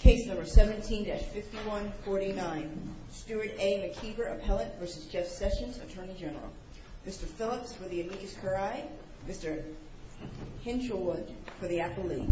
Case number 17-5149, Stuart A. McKeever, Appellate v. Jeff Sessions, Attorney General. Mr. Phillips for the amicus curiae, Mr. Hinchelwood for the apple leaf. Mr. Phillips for the amicus curiae, Mr. Hinchelwood for the apple leaf. Mr. Phillips for the amicus curiae, Mr. Hinchelwood for the apple leaf. Mr. Phillips for the amicus curiae, Mr. Hinchelwood for the apple leaf. Mr. Phillips for the amicus curiae, Mr. Hinchelwood for the apple leaf.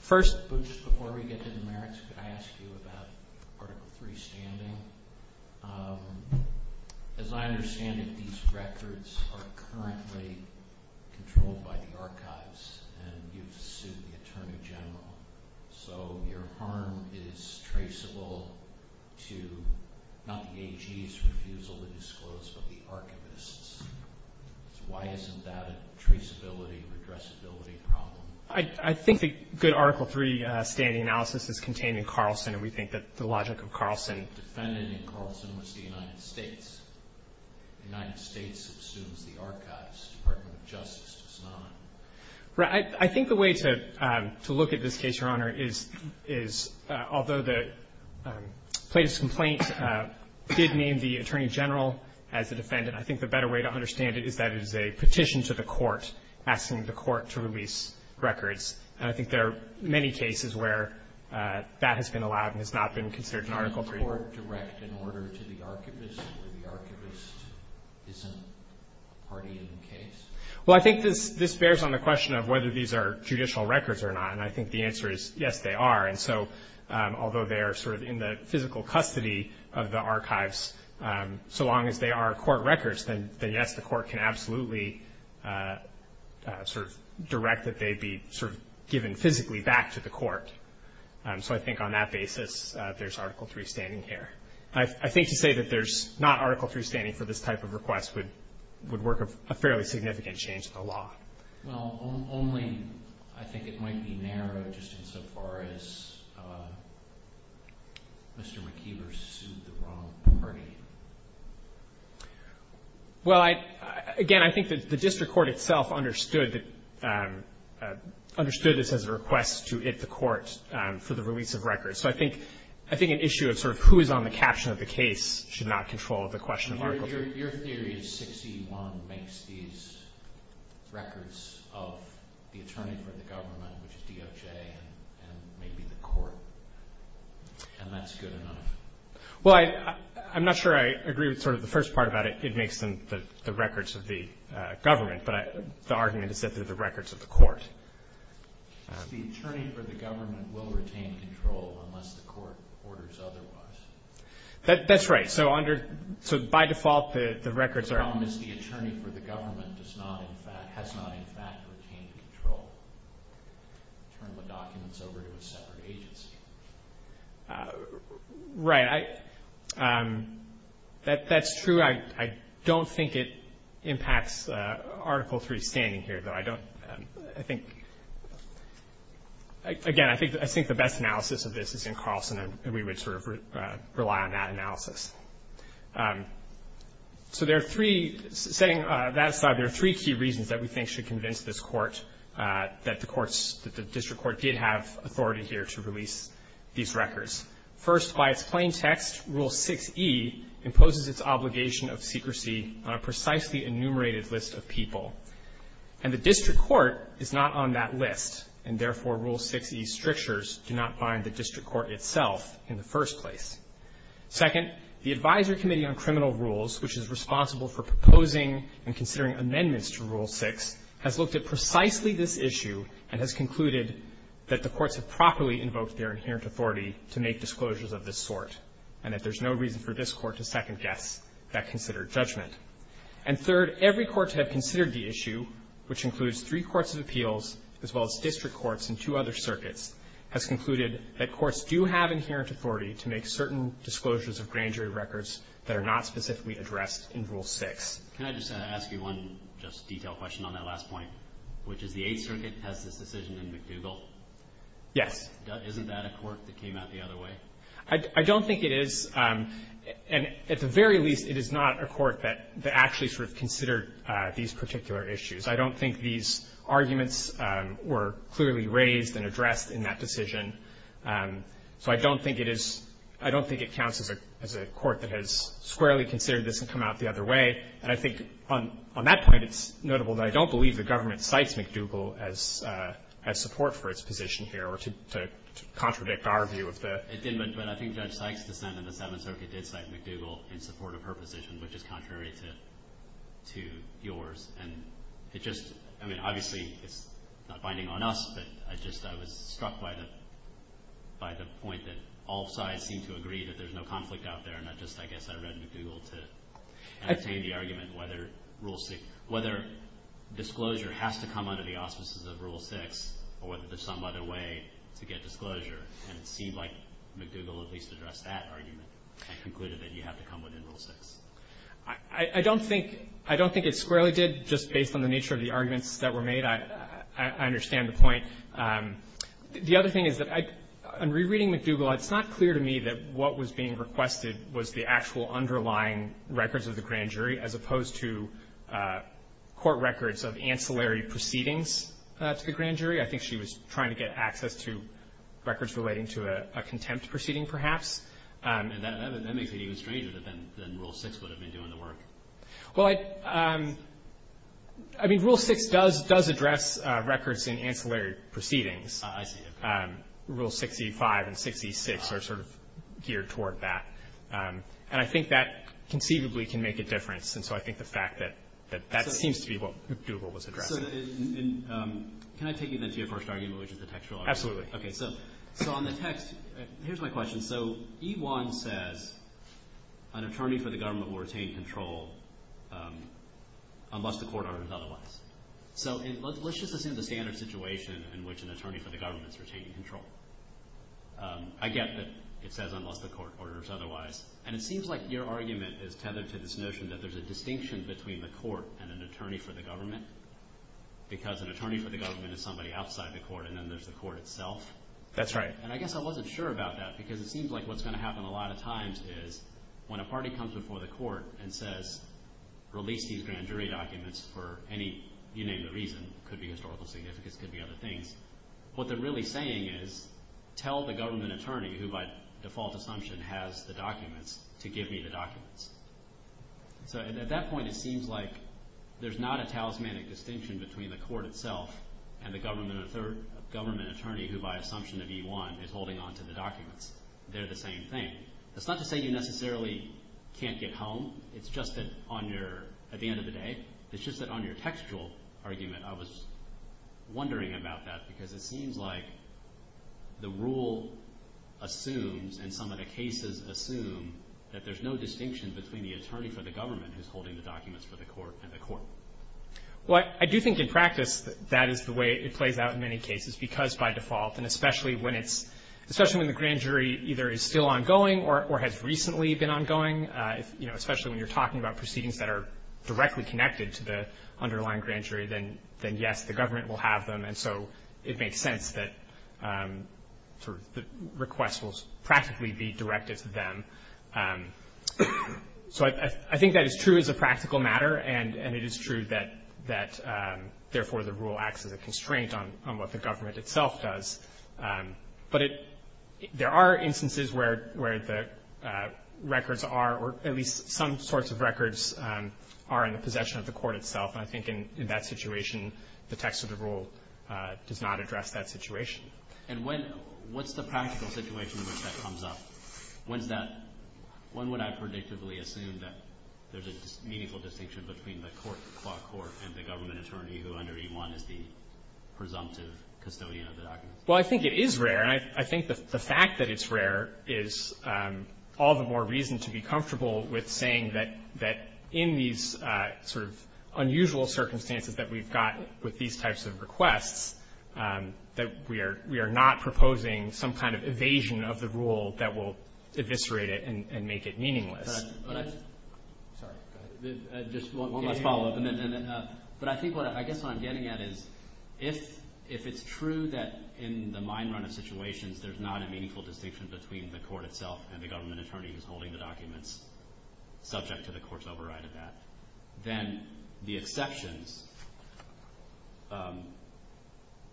First, but just before we get to the merits, could I ask you about Article 3 standing? As I understand it, these records are currently controlled by the archives and you've sued the Attorney General. So your harm is traceable to, not the AG's refusal to disclose, but the archivist's. Why isn't that a traceability, redressability problem? I think the good Article 3 standing analysis is contained in Carlson, and we think that the logic of Carlson The defendant in Carlson was the United States. The United States assumes the archives. The Department of Justice does not. Right. I think the way to look at this case, Your Honor, is although the plaintiff's complaint did name the Attorney General as the defendant, I think the better way to understand it is that it is a petition to the court asking the court to release records. And I think there are many cases where that has been allowed and has not been considered an Article 3. Can the court direct an order to the archivist where the archivist isn't a party in the case? Well, I think this bears on the question of whether these are judicial records or not, and I think the answer is yes, they are. And so although they are sort of in the physical custody of the archives, so long as they are court records, then yes, the court can absolutely sort of direct that they be sort of given physically back to the court. So I think on that basis there's Article 3 standing here. I think to say that there's not Article 3 standing for this type of request would work a fairly significant change in the law. Well, only I think it might be narrow just insofar as Mr. McKeever sued the wrong party. Well, again, I think that the district court itself understood that, understood this as a request to it the court for the release of records. So I think an issue of sort of who is on the caption of the case should not control the question of Article 3. Your theory is 6E1 makes these records of the attorney for the government, which is DOJ, and maybe the court, and that's good enough. Well, I'm not sure I agree with sort of the first part about it. It makes them the records of the government, but the argument is that they're the records of the court. The attorney for the government will retain control unless the court orders otherwise. That's right. So by default the records are. The problem is the attorney for the government has not in fact retained control. Turned the documents over to a separate agency. Right. That's true. I don't think it impacts Article 3 standing here, though. I think, again, I think the best analysis of this is in Carlson, and we would sort of rely on that analysis. So there are three, setting that aside, there are three key reasons that we think should convince this Court that the courts, that the district court did have authority here to release these records. First, by its plain text, Rule 6E imposes its obligation of secrecy on a precisely enumerated list of people. And the district court is not on that list, and therefore Rule 6E's strictures do not bind the district court itself in the first place. Second, the Advisory Committee on Criminal Rules, which is responsible for proposing and considering amendments to Rule 6, has looked at precisely this issue and has concluded that the courts have properly invoked their inherent authority to make disclosures of this sort, and that there's no reason for this Court to second-guess that considered judgment. And third, every court to have considered the issue, which includes three courts of appeals, as well as district courts and two other circuits, has concluded that courts do have inherent authority to make certain disclosures of grand jury records that are not specifically addressed in Rule 6. Can I just ask you one just detailed question on that last point, which is the Eighth Circuit has this decision in McDougall? Yes. Isn't that a court that came out the other way? I don't think it is. And at the very least, it is not a court that actually sort of considered these particular issues. I don't think these arguments were clearly raised and addressed in that decision. So I don't think it is – I don't think it counts as a court that has squarely considered this and come out the other way. And I think on that point, it's notable that I don't believe the government cites McDougall as support for its position here or to contradict our view of the court. It did, but I think Judge Sykes' dissent in the Seventh Circuit did cite McDougall in support of her position, which is contrary to yours. And it just – I mean, obviously, it's not binding on us, but I just – I was struck by the point that all sides seem to agree that there's no conflict out there, not just, I guess, I read McDougall to entertain the argument whether Rule 6 – whether disclosure has to come under the auspices of Rule 6 or whether there's some other way to get disclosure, and it seemed like McDougall at least addressed that argument and concluded that you have to come within Rule 6. I don't think – I don't think it squarely did just based on the nature of the arguments that were made. I understand the point. The other thing is that I – in rereading McDougall, it's not clear to me that what was being requested was the actual underlying records of the grand jury as opposed to court records of ancillary proceedings to the grand jury. I think she was trying to get access to records relating to a contempt proceeding, perhaps. And that makes it even stranger than Rule 6 would have been doing the work. Well, I – I mean, Rule 6 does address records in ancillary proceedings. I see. Rule 65 and 66 are sort of geared toward that. And I think that conceivably can make a difference. And so I think the fact that that seems to be what McDougall was addressing. Can I take you then to your first argument, which is the textual argument? Absolutely. Okay, so on the text, here's my question. So E1 says an attorney for the government will retain control unless the court orders otherwise. So let's just assume the standard situation in which an attorney for the government is retaining control. I get that it says unless the court orders otherwise. And it seems like your argument is tethered to this notion that there's a distinction between the court and an attorney for the government because an attorney for the government is somebody outside the court and then there's the court itself. That's right. And I guess I wasn't sure about that because it seems like what's going to happen a lot of times is when a party comes before the court and says release these grand jury documents for any – you name the reason. It could be historical significance. It could be other things. What they're really saying is tell the government attorney, who by default assumption has the documents, to give me the documents. So at that point it seems like there's not a talismanic distinction between the court itself and the government attorney who by assumption of E1 is holding onto the documents. They're the same thing. That's not to say you necessarily can't get home. It's just that on your – at the end of the day, it's just that on your textual argument, I was wondering about that because it seems like the rule assumes and some of the cases assume that there's no distinction between the attorney for the government who's holding the documents for the court and the court. Well, I do think in practice that is the way it plays out in many cases because by default and especially when it's – especially when the grand jury either is still ongoing or has recently been ongoing, you know, especially when you're talking about proceedings that are directly connected to the underlying grand jury, then yes, the government will have them. And so it makes sense that sort of the request will practically be directed to them. So I think that is true as a practical matter, and it is true that therefore the rule acts as a constraint on what the government itself does. But there are instances where the records are, or at least some sorts of records are in the possession of the court itself. And I think in that situation, the text of the rule does not address that situation. And when – what's the practical situation in which that comes up? When is that – when would I predictably assume that there's a meaningful distinction between the court, the court and the government attorney who under E-1 is the presumptive custodian of the documents? Well, I think it is rare. I think the fact that it's rare is all the more reason to be comfortable with saying that in these sort of unusual circumstances that we've got with these types of requests, that we are not proposing some kind of evasion of the rule that will eviscerate it and make it meaningless. Sorry. Just one last follow-up. But I think what – I guess what I'm getting at is if it's true that in the mine run of situations, there's not a meaningful distinction between the court itself and the government attorney who's holding the documents subject to the court's override of that, then the exceptions,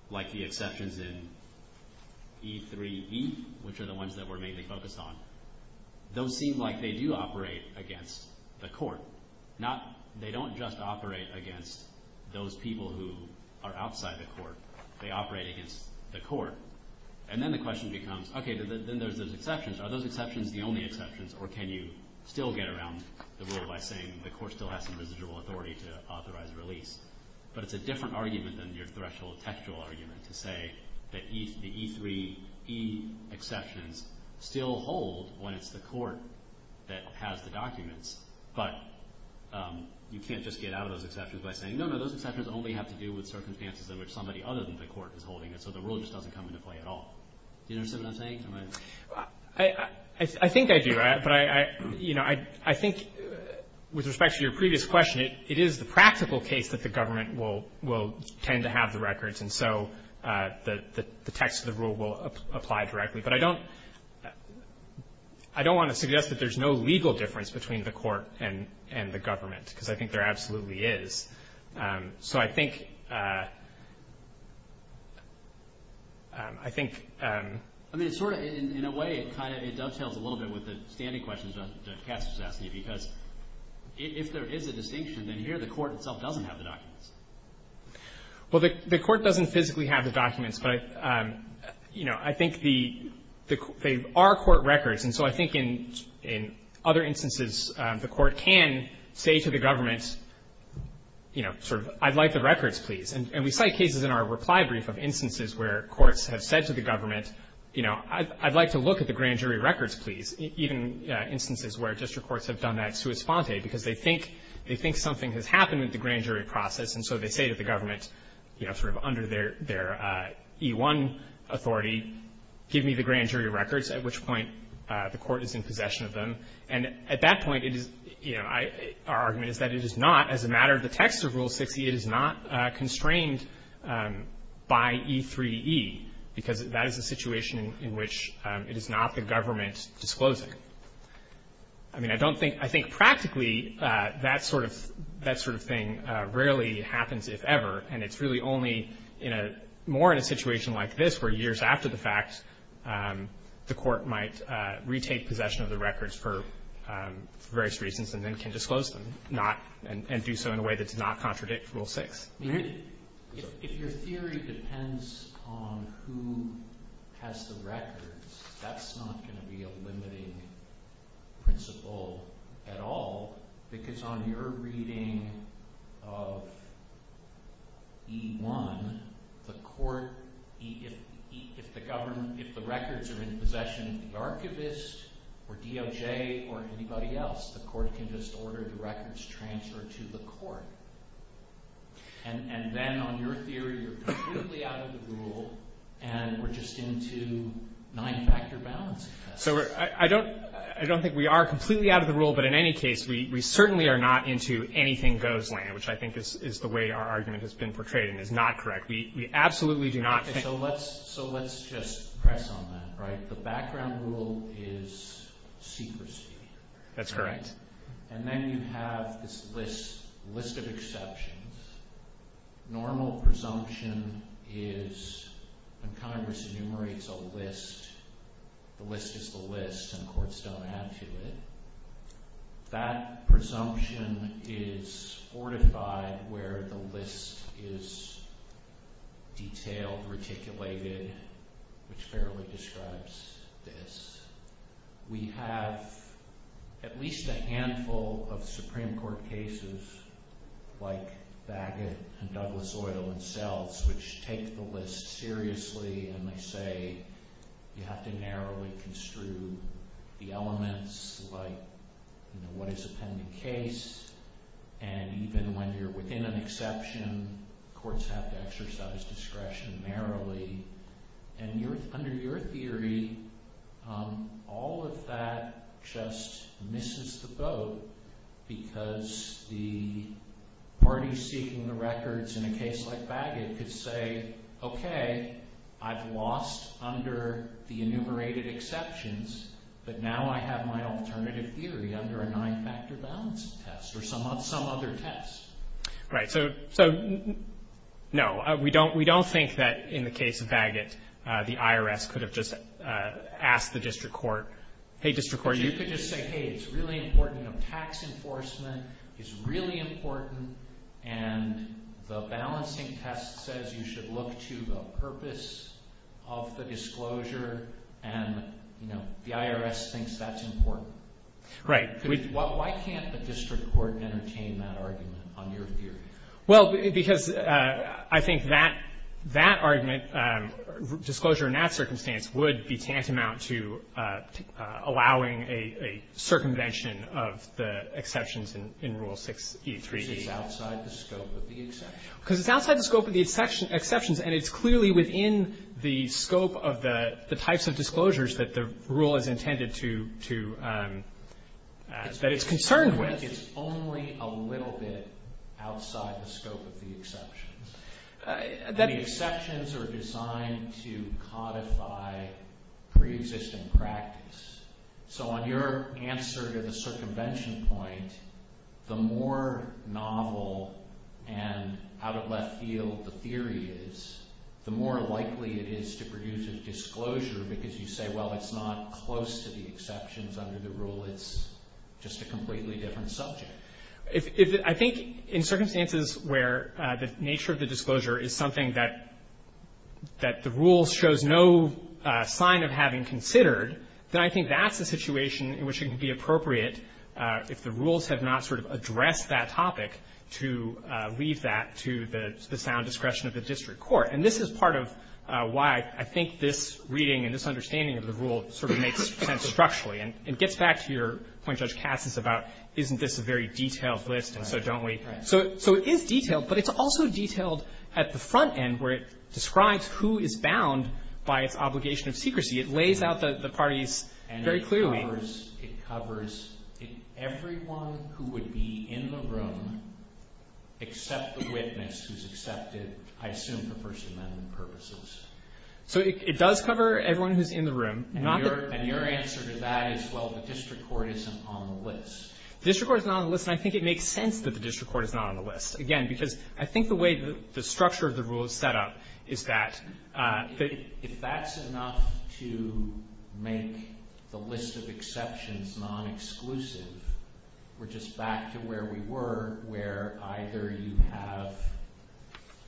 like the exceptions in E-3E, which are the ones that we're mainly focused on, those seem like they do operate against the court, not – they don't just operate against those people who are outside the court. They operate against the court. And then the question becomes, okay, then there's those exceptions. Are those exceptions the only exceptions, or can you still get around the rule by saying the court still has some residual authority to authorize a release? But it's a different argument than your threshold textual argument to say that the E-3E exceptions still hold when it's the court that has the documents, but you can't just get out of those exceptions by saying, no, no, those exceptions only have to do with circumstances in which somebody other than the court is holding it, so the rule just doesn't come into play at all. Do you understand what I'm saying? I think I do. But, you know, I think with respect to your previous question, it is the practical case that the government will tend to have the records, and so the text of the rule will apply directly. But I don't want to suggest that there's no legal difference between the court and the government, because I think there absolutely is. So I think, I think. I mean, it's sort of, in a way, it kind of, it dovetails a little bit with the standing questions that Cass was asking you, because if there is a distinction, then here the court itself doesn't have the documents. Well, the court doesn't physically have the documents, but, you know, I think the, they are court records, and so I think in other instances the court can say to the government, you know, sort of, I'd like the records, please. And we cite cases in our reply brief of instances where courts have said to the government, you know, I'd like to look at the grand jury records, please, even instances where district courts have done that sua sponte, because they think something has happened with the grand jury process, and so they say to the government, you know, sort of under their E-1 authority, give me the grand jury records, at which point the court is in possession of them. And at that point, it is, you know, our argument is that it is not, as a matter of the text of Rule 6e, it is not constrained by E-3e, because that is a situation in which it is not the government disclosing. I mean, I don't think, I think practically that sort of, that sort of thing rarely happens, if ever, and it's really only in a, more in a situation like this, where years after the fact, the court might retake possession of the records for various reasons and then can disclose them, not, and do so in a way that does not contradict Rule 6. If your theory depends on who has the records, that's not going to be a limiting principle at all, because on your reading of E-1, the court, if the government, if the records are in possession of the archivist or DOJ or anybody else, the court can just order the records transferred to the court. And then on your theory, you're completely out of the rule, and we're just into nine-factor balancing tests. So I don't, I don't think we are completely out of the rule, but in any case, we certainly are not into anything goes land, which I think is the way our argument has been portrayed and is not correct. We absolutely do not think. So let's, so let's just press on that, right? The background rule is secrecy. That's correct. And then you have this list, list of exceptions. Normal presumption is when Congress enumerates a list, the list is the list, and courts don't add to it. That presumption is fortified where the list is detailed, reticulated, which fairly describes this. We have at least a handful of Supreme Court cases like Bagot and Douglas Oil and Sells, which take the list seriously, and they say you have to narrowly construe the elements, like what is a pending case, and even when you're within an exception, courts have to exercise discretion narrowly. And under your theory, all of that just misses the boat, because the parties seeking the records in a case like Bagot could say, okay, I've lost under the enumerated exceptions, but now I have my alternative theory under a nine-factor balancing test or some other test. Right. So, no, we don't think that in the case of Bagot, the IRS could have just asked the district court, hey, district court, you could just say, hey, it's really important. Tax enforcement is really important, and the balancing test says you should look to the purpose of the disclosure, and the IRS thinks that's important. Right. Why can't the district court entertain that argument on your theory? Well, because I think that argument, disclosure in that circumstance, would be tantamount to allowing a circumvention of the exceptions in Rule 6e3. Because it's outside the scope of the exceptions. Because it's outside the scope of the exceptions, and it's clearly within the scope of the types of disclosures that the rule is intended to, that it's concerned with. It's only a little bit outside the scope of the exceptions. The exceptions are designed to codify preexisting practice. So on your answer to the circumvention point, the more novel and out of left field the theory is, the more likely it is to produce a disclosure because you say, well, it's not close to the exceptions under the rule. It's just a completely different subject. I think in circumstances where the nature of the disclosure is something that the rule shows no sign of having considered, then I think that's a situation in which it can be appropriate, if the rules have not sort of addressed that topic, to leave that to the sound discretion of the district court. And this is part of why I think this reading and this understanding of the rule sort of makes sense structurally. And it gets back to your point, Judge Cass, about isn't this a very detailed list, and so don't we? So it is detailed, but it's also detailed at the front end where it describes who is bound by its obligation of secrecy. It lays out the parties very clearly. And it covers everyone who would be in the room except the witness who's accepted, I assume, for First Amendment purposes. So it does cover everyone who's in the room. And your answer to that is, well, the district court isn't on the list. The district court is not on the list, and I think it makes sense that the district court is not on the list. Again, because I think the way the structure of the rule is set up is that if that's enough to make the list of exceptions non-exclusive, we're just back to where we were, where either you have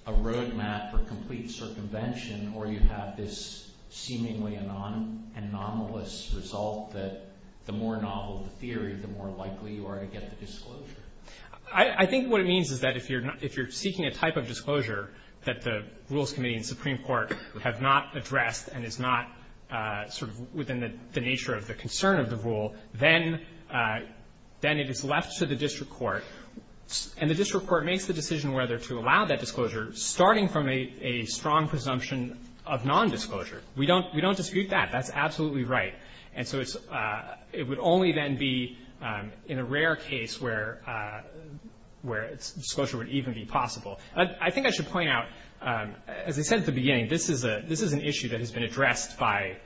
a road map for complete circumvention or you have this seemingly anomalous result that the more novel the theory, the more likely you are to get the disclosure. I think what it means is that if you're seeking a type of disclosure that the Rules of Procedure is not sort of within the nature of the concern of the rule, then it is left to the district court. And the district court makes the decision whether to allow that disclosure, starting from a strong presumption of nondisclosure. We don't dispute that. That's absolutely right. And so it would only then be in a rare case where disclosure would even be possible. I think I should point out, as I said at the beginning, this is an issue that has been addressed by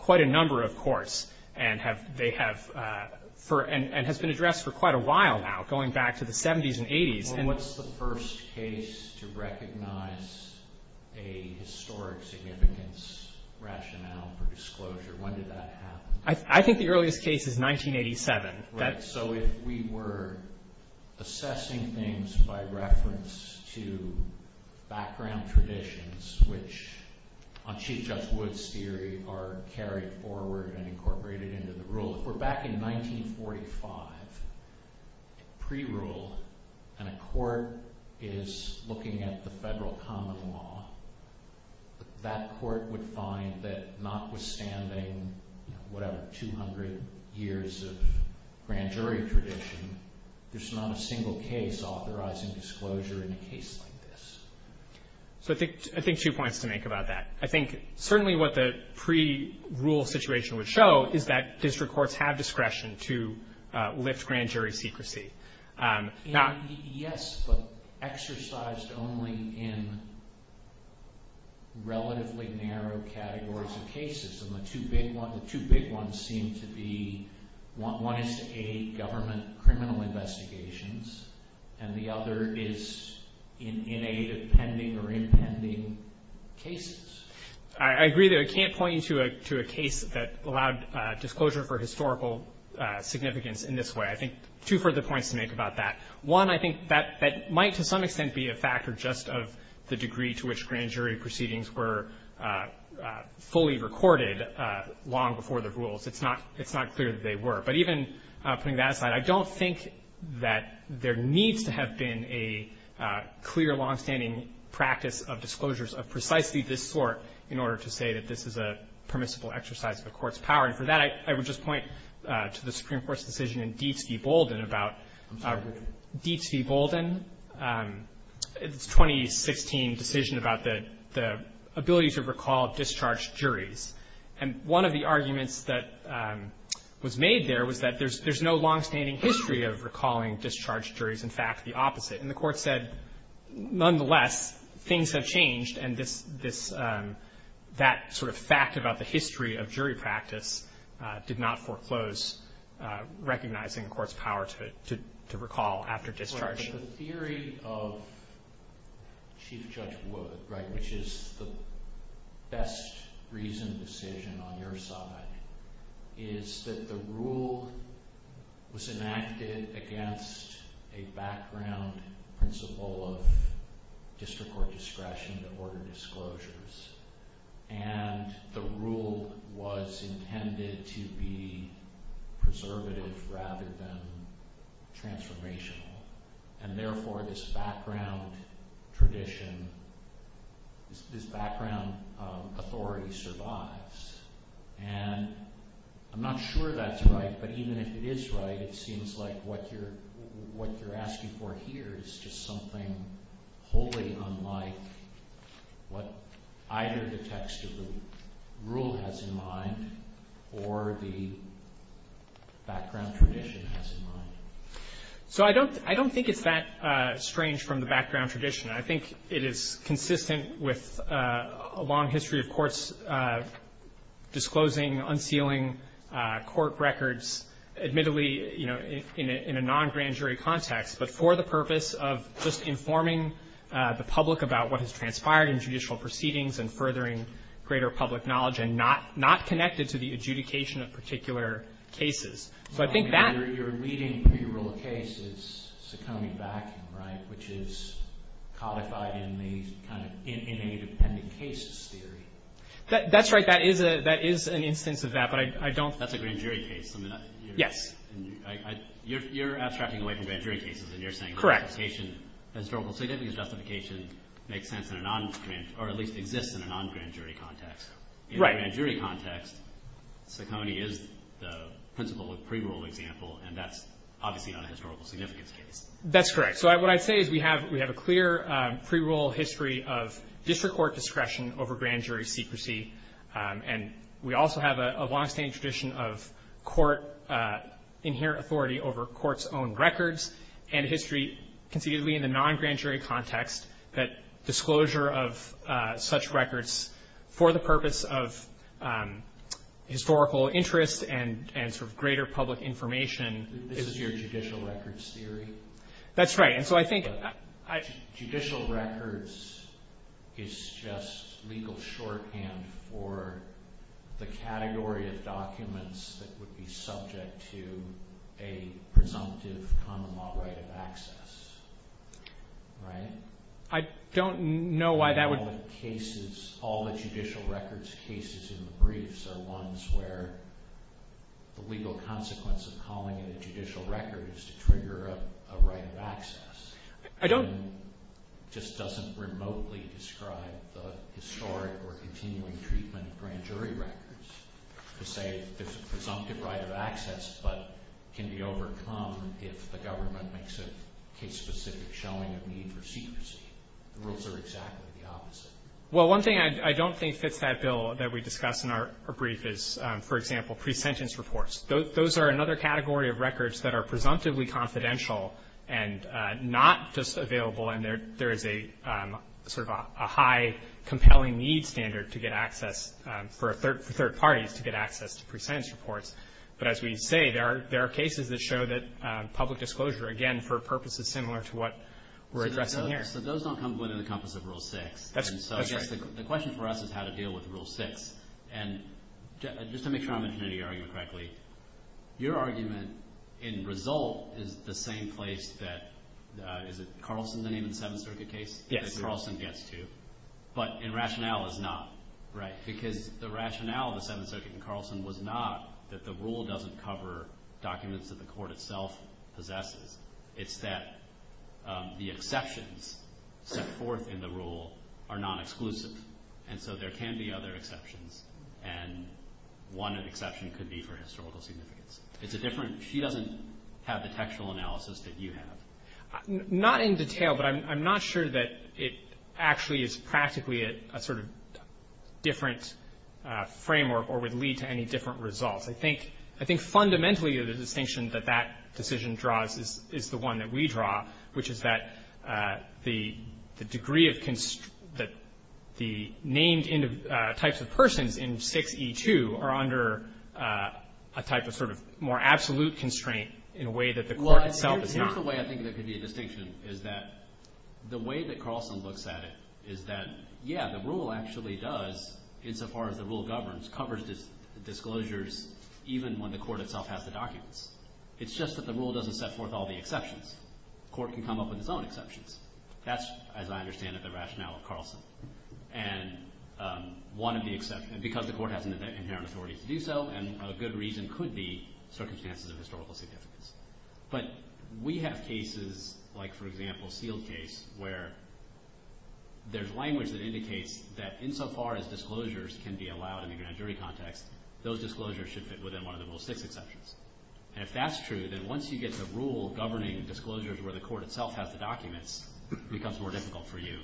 quite a number of courts and has been addressed for quite a while now, going back to the 70s and 80s. And what's the first case to recognize a historic significance rationale for disclosure? When did that happen? I think the earliest case is 1987. So if we were assessing things by reference to background traditions, which on Chief Judge Wood's theory are carried forward and incorporated into the rule. If we're back in 1945, pre-rule, and a court is looking at the federal common law, that court would find that notwithstanding, whatever, 200 years of grand jury tradition, there's not a single case authorizing disclosure in a case like this. So I think two points to make about that. I think certainly what the pre-rule situation would show is that district courts have discretion to lift grand jury secrecy. Yes, but exercised only in relatively narrow categories of cases. And the two big ones seem to be, one is to aid government criminal investigations, and the other is in aid of pending or impending cases. I agree that I can't point you to a case that allowed disclosure for historical significance in this way. I think two further points to make about that. One, I think that might to some extent be a factor just of the degree to which grand jury proceedings were fully recorded long before the rules. It's not clear that they were. But even putting that aside, I don't think that there needs to have been a clear longstanding practice of disclosures of precisely this sort in order to say that this is a permissible exercise of a court's power. And for that, I would just point to the Supreme Court's decision in Deets v. Bolden about Deets v. Bolden, its 2016 decision about the ability to recall discharged juries. And one of the arguments that was made there was that there's no longstanding history of recalling discharged juries. In fact, the opposite. And the Court said, nonetheless, things have changed, and this — that sort of fact about the history of jury practice did not foreclose recognizing a court's power to recall after discharge. But the theory of Chief Judge Wood, right, which is the best reasoned decision on your side, is that the rule was enacted against a background principle of district court discretion to order disclosures. And the rule was intended to be preservative rather than transformational. And therefore, this background tradition, this background authority survives. And I'm not sure that's right, but even if it is right, it seems like what you're either the text of the rule has in mind or the background tradition has in mind. So I don't think it's that strange from the background tradition. I think it is consistent with a long history of courts disclosing, unsealing court records, admittedly, you know, in a non-grand jury context, but for the purpose of just informing the public about what has transpired in judicial proceedings and furthering greater public knowledge and not connected to the adjudication of particular cases. So I think that — You're leading pre-rule cases, so coming back, right, which is codified in the kind of independent cases theory. That's right. That is an instance of that, but I don't — That's a grand jury case. Yes. You're abstracting away from grand jury cases, and you're saying justification — Correct. — historical significance justification makes sense in a non-grand — or at least exists in a non-grand jury context. Right. In a grand jury context, Saccone is the principle of pre-rule example, and that's obviously not a historical significance case. That's correct. So what I'd say is we have a clear pre-rule history of district court discretion over grand jury secrecy. And we also have a longstanding tradition of court — inherent authority over court's own records and history, considerably in the non-grand jury context, that disclosure of such records for the purpose of historical interest and sort of greater public information — This is your judicial records theory? That's right. And so I think — Judicial records is just legal shorthand for the category of documents that would be subject to a presumptive common law right of access, right? I don't know why that would — All the cases — all the judicial records cases in the briefs are ones where the legal consequence of calling it a judicial record is to trigger a right of access. I don't — It just doesn't remotely describe the historic or continuing treatment of grand jury records to say there's a presumptive right of access but can be overcome if the government makes a case-specific showing of need for secrecy. The rules are exactly the opposite. Well, one thing I don't think fits that bill that we discuss in our brief is, for example, pre-sentence reports. Those are another category of records that are presumptively confidential and not just available and there is a sort of a high compelling need standard to get access for third parties to get access to pre-sentence reports. But as we say, there are cases that show that public disclosure, again, for a purpose is similar to what we're addressing here. So those don't come within the compass of Rule 6. That's right. And so I guess the question for us is how to deal with Rule 6. And just to make sure I'm interpreting your argument correctly, your argument in result is the same place that — is it Carlson's name in the Seventh Circuit case? Yes. That Carlson gets to, but in rationale is not. Right. Because the rationale of the Seventh Circuit in Carlson was not that the rule doesn't cover documents that the court itself possesses. It's that the exceptions set forth in the rule are non-exclusive. And so there can be other exceptions. And one exception could be for historical significance. It's a different — she doesn't have the textual analysis that you have. Not in detail, but I'm not sure that it actually is practically a sort of different framework or would lead to any different results. I think fundamentally the distinction that that decision draws is the one that we draw, which is that the degree of — that the named types of persons in 6E2 are under a type of sort of more absolute constraint in a way that the court itself is not. Well, here's the way I think there could be a distinction, is that the way that Carlson looks at it is that, yeah, the rule actually does, insofar as the rule governs, covers disclosures even when the court itself has the documents. It's just that the rule doesn't set forth all the exceptions. The court can come up with its own exceptions. That's, as I understand it, the rationale of Carlson. And one of the exceptions — because the court has an inherent authority to do so, and a good reason could be circumstances of historical significance. But we have cases like, for example, Sealed case, where there's language that indicates that insofar as disclosures can be allowed in the grand jury context, those disclosures should fit within one of the Rule 6 exceptions. And if that's true, then once you get the rule governing disclosures where the court itself has the documents, it becomes more difficult for you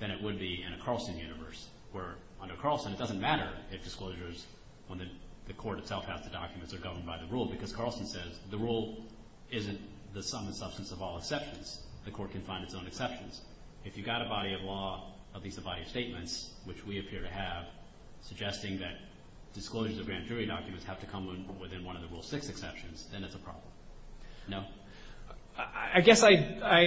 than it would be in a Carlson universe, where under Carlson it doesn't matter if disclosures when the court itself has the documents are governed by the rule, because Carlson says the rule isn't the sum and substance of all exceptions. The court can find its own exceptions. If you've got a body of law, at least a body of statements, which we appear to have, suggesting that disclosures of grand jury documents have to come within one of the Rule 6 exceptions, then it's a problem. No? I guess I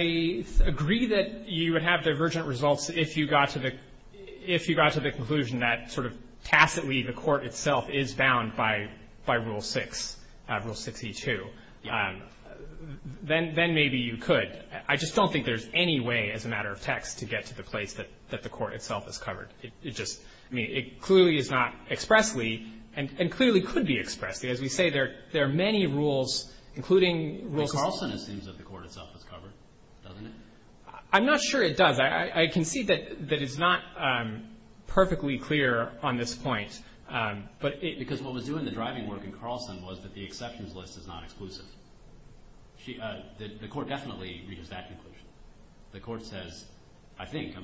agree that you would have divergent results if you got to the conclusion that sort of tacitly the court itself is bound by Rule 6, Rule 62. Then maybe you could. I just don't think there's any way as a matter of text to get to the place that the court itself is covered. I mean, it clearly is not expressly, and clearly could be expressly. As we say, there are many rules, including Rule 6. And Carlson assumes that the court itself is covered, doesn't it? I'm not sure it does. I can see that it's not perfectly clear on this point. Because what was doing the driving work in Carlson was that the exceptions list is not exclusive. The court definitely reaches that conclusion. The court says, I think,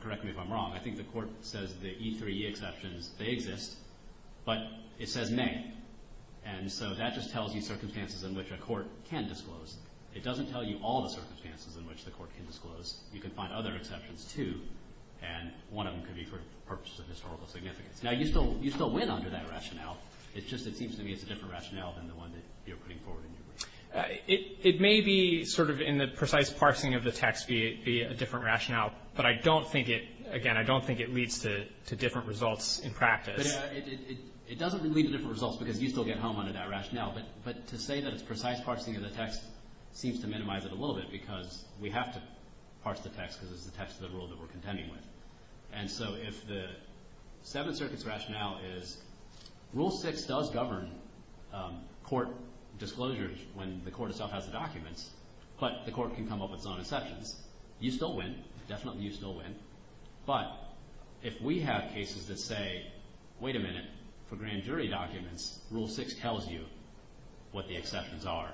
correct me if I'm wrong, I think the court says the E3E exceptions, they exist. But it says may. And so that just tells you circumstances in which a court can disclose. It doesn't tell you all the circumstances in which the court can disclose. You can find other exceptions, too. And one of them could be for purposes of historical significance. Now, you still win under that rationale. It's just it seems to me it's a different rationale than the one that you're putting forward. It may be sort of in the precise parsing of the text be a different rationale. But I don't think it, again, I don't think it leads to different results in practice. It doesn't lead to different results because you still get home under that rationale. But to say that it's precise parsing of the text seems to minimize it a little bit because we have to parse the text because it's the text of the rule that we're contending with. And so if the Seventh Circuit's rationale is Rule 6 does govern court disclosures when the court itself has the documents, but the court can come up with its own exceptions, you still win, definitely you still win. But if we have cases that say, wait a minute, for grand jury documents, Rule 6 tells you what the exceptions are.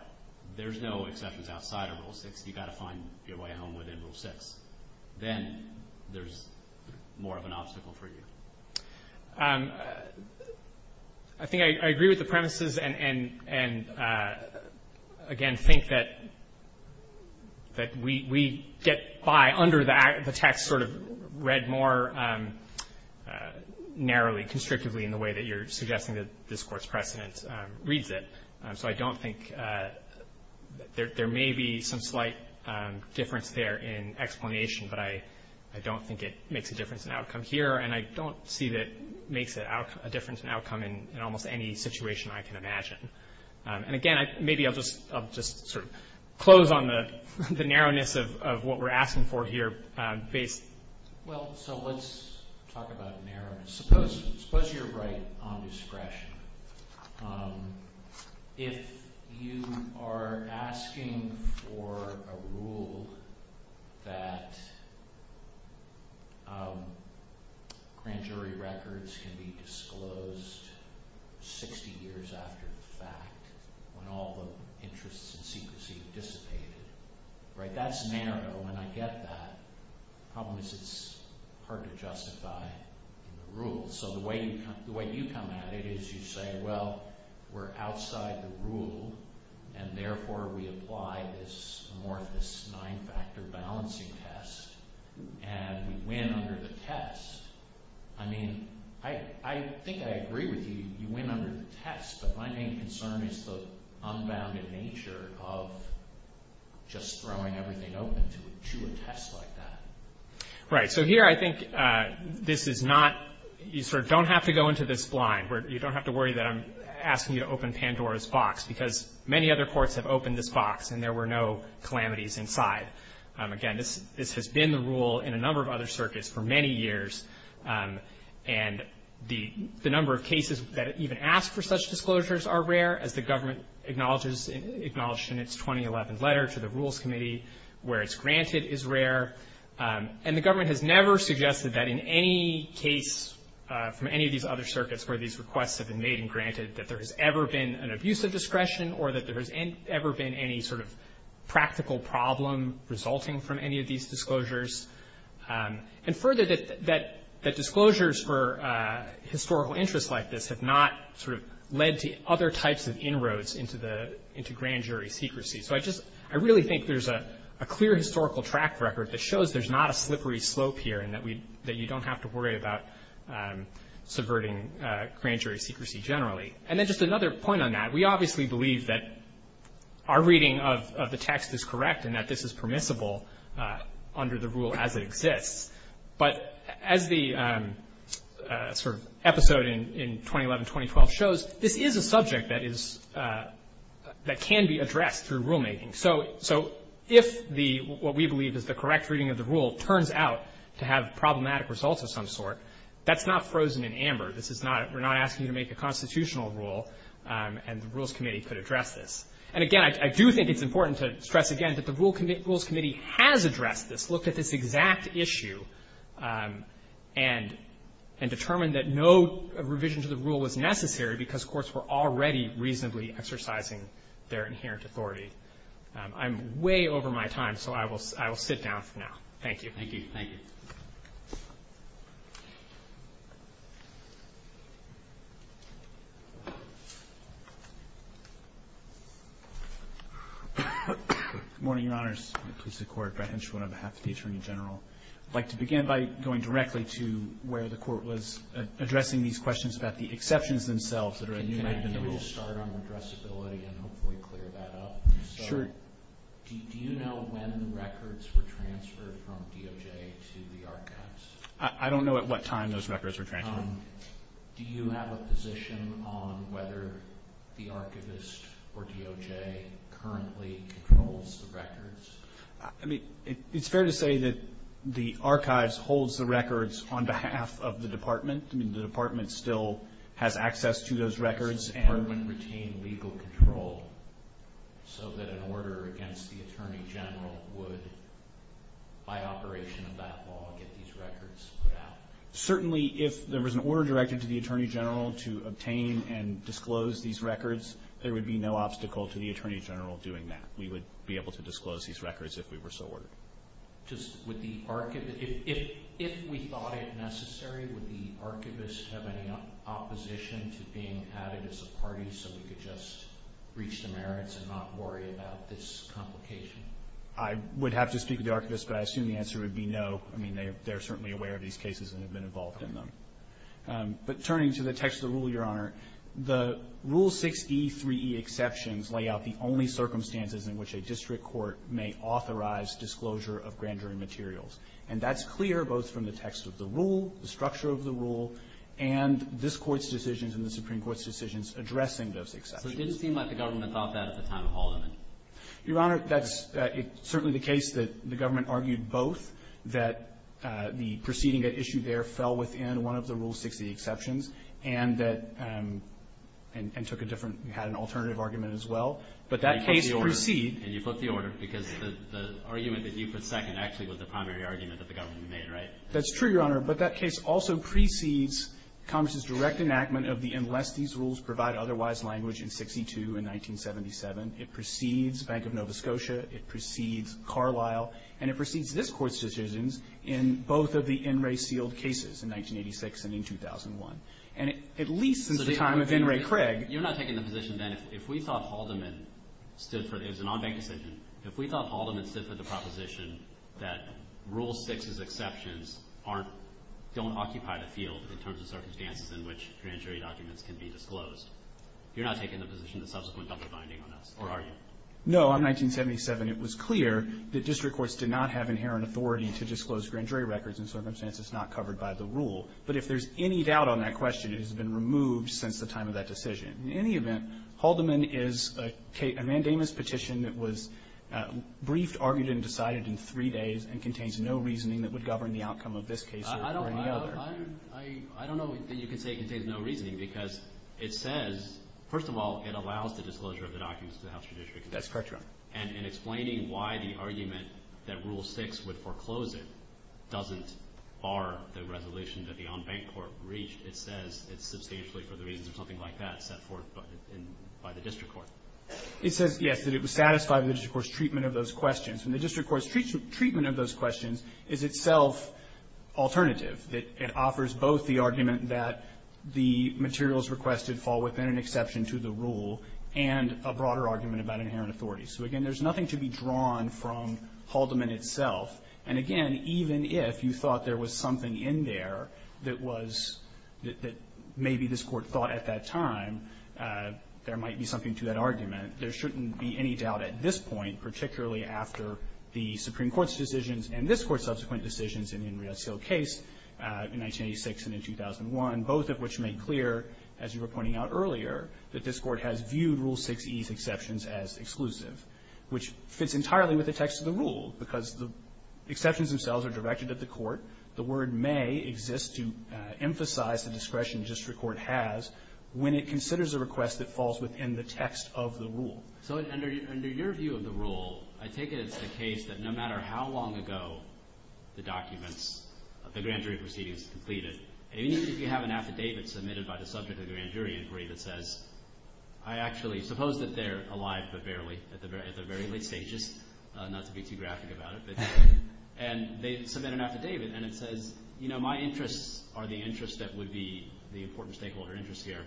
There's no exceptions outside of Rule 6. You've got to find your way home within Rule 6. Then there's more of an obstacle for you. I think I agree with the premises and, again, think that we get by under the text sort of read more narrowly, constrictively in the way that you're suggesting that this Court's precedent reads it. So I don't think there may be some slight difference there in explanation, but I don't think it makes a difference in outcome here. And I don't see that it makes a difference in outcome in almost any situation I can imagine. And, again, maybe I'll just sort of close on the narrowness of what we're asking for here. Well, so let's talk about narrowness. Suppose you're right on discretion. If you are asking for a rule that grand jury records can be disclosed 60 years after the fact, when all the interests and secrecy dissipated, right? That's narrow, and I get that. The problem is it's hard to justify in the rules. So the way you come at it is you say, well, we're outside the rule, and therefore we apply this amorphous nine-factor balancing test, and we win under the test. I mean, I think I agree with you. You win under the test, but my main concern is the unbounded nature of just throwing everything open to a jury test like that. Right. So here I think this is not you sort of don't have to go into this blind, where you don't have to worry that I'm asking you to open Pandora's box, because many other courts have opened this box and there were no calamities inside. Again, this has been the rule in a number of other circuits for many years, and the number of cases that even ask for such disclosures are rare, as the government acknowledges in its 2011 letter to the Rules Committee, where it's granted is rare. And the government has never suggested that in any case from any of these other circuits where these requests have been made and granted that there has ever been an abuse of discretion or that there has ever been any sort of practical problem resulting from any of these disclosures. And further, that disclosures for historical interests like this have not sort of led to other types of inroads into grand jury secrecy. So I really think there's a clear historical track record that shows there's not a slippery slope here and that you don't have to worry about subverting grand jury secrecy generally. And then just another point on that, we obviously believe that our reading of the text is correct and that this is permissible under the rule as it exists. But as the sort of episode in 2011-2012 shows, this is a subject that can be addressed through rulemaking. So if what we believe is the correct reading of the rule turns out to have problematic results of some sort, that's not frozen in amber. We're not asking you to make a constitutional rule, and the Rules Committee could address this. And again, I do think it's important to stress again that the Rules Committee has addressed this, looked at this exact issue, and determined that no revision to the rule was necessary because courts were already reasonably exercising their inherent authority. I'm way over my time, so I will sit down for now. Thank you. Thank you. Good morning, Your Honors. I'm the Justice of the Court, Brett Henshaw, on behalf of the Attorney General. I'd like to begin by going directly to where the Court was addressing these questions about the exceptions themselves that are enumerated in the rule. Can I just start on addressability and hopefully clear that up? Sure. Do you know when the records were transferred from DOJ to the Archives? I don't know at what time those records were transferred. Do you have a position on whether the Archivist or DOJ currently controls the records? I mean, it's fair to say that the Archives holds the records on behalf of the Department. I mean, the Department still has access to those records. Does the Department retain legal control so that an order against the Attorney General would, by operation of that law, get these records put out? Certainly, if there was an order directed to the Attorney General to obtain and disclose these records, there would be no obstacle to the Attorney General doing that. We would be able to disclose these records if we were so ordered. If we thought it necessary, would the Archivist have any opposition to being added as a party so we could just reach the merits and not worry about this complication? I would have to speak with the Archivist, but I assume the answer would be no. I mean, they're certainly aware of these cases and have been involved in them. Your Honor, the Rule 6e3e exceptions lay out the only circumstances in which a district court may authorize disclosure of grand jury materials, and that's clear both from the text of the rule, the structure of the rule, and this Court's decisions and the Supreme Court's decisions addressing those exceptions. So it didn't seem like the government thought that at the time of Haldeman? Your Honor, that's certainly the case that the government argued both, that the proceeding at issue there fell within one of the Rule 6e exceptions and that and took a different had an alternative argument as well. But that case precedes. And you flipped the order, because the argument that you put second actually was the primary argument that the government made, right? That's true, Your Honor. But that case also precedes Congress's direct enactment of the unless these rules provide otherwise language in 62 and 1977. It precedes Bank of Nova Scotia. It precedes Carlisle. And it precedes this Court's decisions in both of the NRA-sealed cases in 1986 and in 2001. And at least since the time of NRA Craig? You're not taking the position, then, if we thought Haldeman stood for, it was an on-bank decision, if we thought Haldeman stood for the proposition that Rule 6's exceptions aren't, don't occupy the field in terms of circumstances in which grand jury documents can be disclosed, you're not taking the position that subsequent government binding on us, are you? No. In 1977, it was clear that district courts did not have inherent authority to disclose grand jury records in circumstances not covered by the rule. But if there's any doubt on that question, it has been removed since the time of that decision. In any event, Haldeman is a mandamus petition that was briefed, argued, and decided in three days and contains no reasoning that would govern the outcome of this case or any other. I don't know that you can say it contains no reasoning, because it says, first of all, it allows the disclosure of the documents to the House Judiciary Committee. That's correct, Your Honor. And in explaining why the argument that Rule 6 would foreclose it doesn't bar the resolution that the on-bank court reached, it says it's substantially, for the reasons of something like that, set forth by the district court. It says, yes, that it would satisfy the district court's treatment of those questions. And the district court's treatment of those questions is itself alternative. It offers both the argument that the materials requested fall within an exception to the rule and a broader argument about inherent authority. So, again, there's nothing to be drawn from Haldeman itself. And, again, even if you thought there was something in there that was – that maybe this Court thought at that time there might be something to that argument, there shouldn't be any doubt at this point, particularly after the Supreme Court's decisions and this Court's subsequent decisions in the Inriazil case in 1986 and in 2001, both of which made clear, as you were pointing out earlier, that this Court has viewed Rule 6e's exceptions as exclusive, which fits entirely with the text of the rule, because the exceptions themselves are directed at the court. The word may exist to emphasize the discretion district court has when it considers a request that falls within the text of the rule. So under your view of the rule, I take it it's the case that no matter how long ago the documents – the grand jury proceedings are completed, and even if you have an affidavit submitted by the subject of the grand jury inquiry that says, I actually suppose that they're alive but barely at the very late stages, not to be too graphic about it, and they submit an affidavit and it says, you know, my interests are the interests that would be the important stakeholder interests here.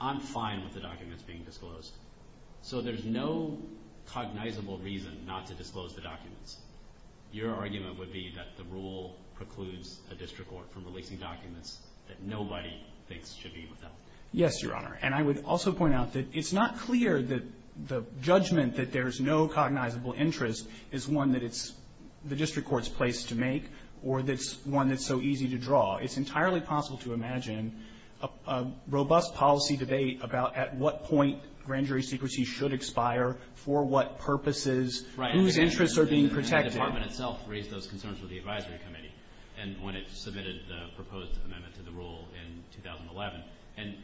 I'm fine with the documents being disclosed. So there's no cognizable reason not to disclose the documents. Your argument would be that the rule precludes a district court from releasing documents that nobody thinks should be revealed. Yes, Your Honor. And I would also point out that it's not clear that the judgment that there's no cognizable interest is one that it's the district court's place to make or that's one that's so easy to draw. It's entirely possible to imagine a robust policy debate about at what point grand jury proceedings are disclosed. or that's where the district court's place is to make a decision about purposes, whose interest are being protected. Right. And the department itself raised those concerns with the advisory committee and when it submitted the proposed amendment to the rule in 2011. And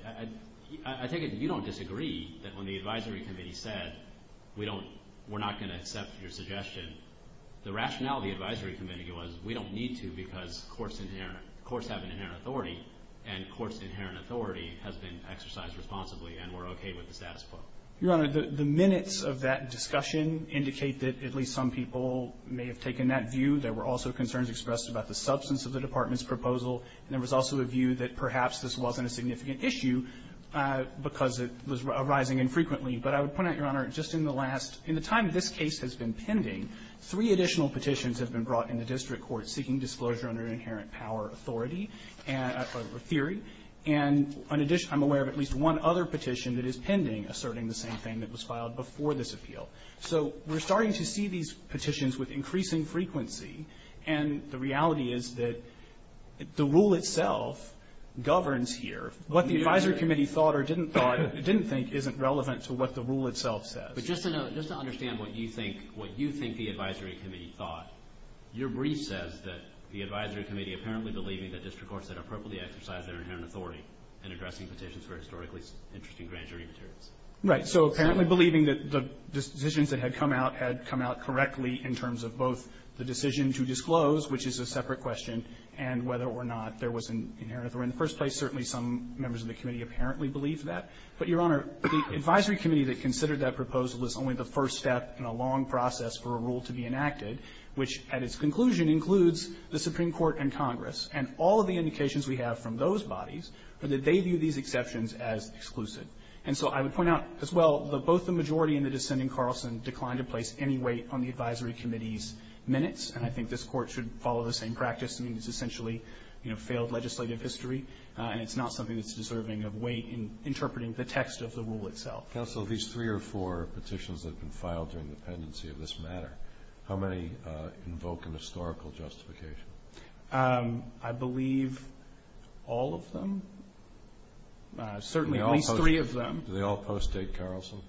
I take it that you don't disagree that when the advisory committee said we don't we're not going to accept your suggestion. The rationality of the advisory committee was we don't need to because courts have inherent authority and courts' inherent authority has been exercised responsibly and we're okay with the status quo. Your Honor, the minutes of that discussion indicate that at least some people may have taken that view. There were also concerns expressed about the substance of the department's proposal. And there was also a view that perhaps this wasn't a significant issue because it was arising infrequently. But I would point out, Your Honor, just in the last – in the time this case has been pending, three additional petitions have been brought in the district court seeking disclosure under inherent power authority, or theory. And I'm aware of at least one other petition that is pending asserting the same thing that was filed before this appeal. So we're starting to see these petitions with increasing frequency. And the reality is that the rule itself governs here. What the advisory committee thought or didn't think isn't relevant to what the rule itself says. But just to note, just to understand what you think the advisory committee thought, your brief says that the advisory committee apparently believing that district courts had appropriately exercised their inherent authority in addressing petitions for historically interesting grand jury materials. Right. So apparently believing that the decisions that had come out had come out correctly in terms of both the decision to disclose, which is a separate question, and whether or not there was an inherent authority in the first place, certainly some members of the committee apparently believed that. But, Your Honor, the advisory committee that considered that proposal was only the first step in a long process for a rule to be enacted, which at its conclusion includes the Supreme Court and Congress. And all of the indications we have from those bodies are that they view these exceptions as exclusive. And so I would point out as well that both the majority and the dissenting Carlson declined to place any weight on the advisory committee's minutes. And I think this Court should follow the same practice. I mean, it's essentially, you know, failed legislative history. And it's not something that's deserving of weight in interpreting the text of the rule itself. Counsel, of these three or four petitions that have been filed during the pendency of this matter, how many invoke an historical justification? I believe all of them. Certainly at least three of them. Do they all postdate Carlson?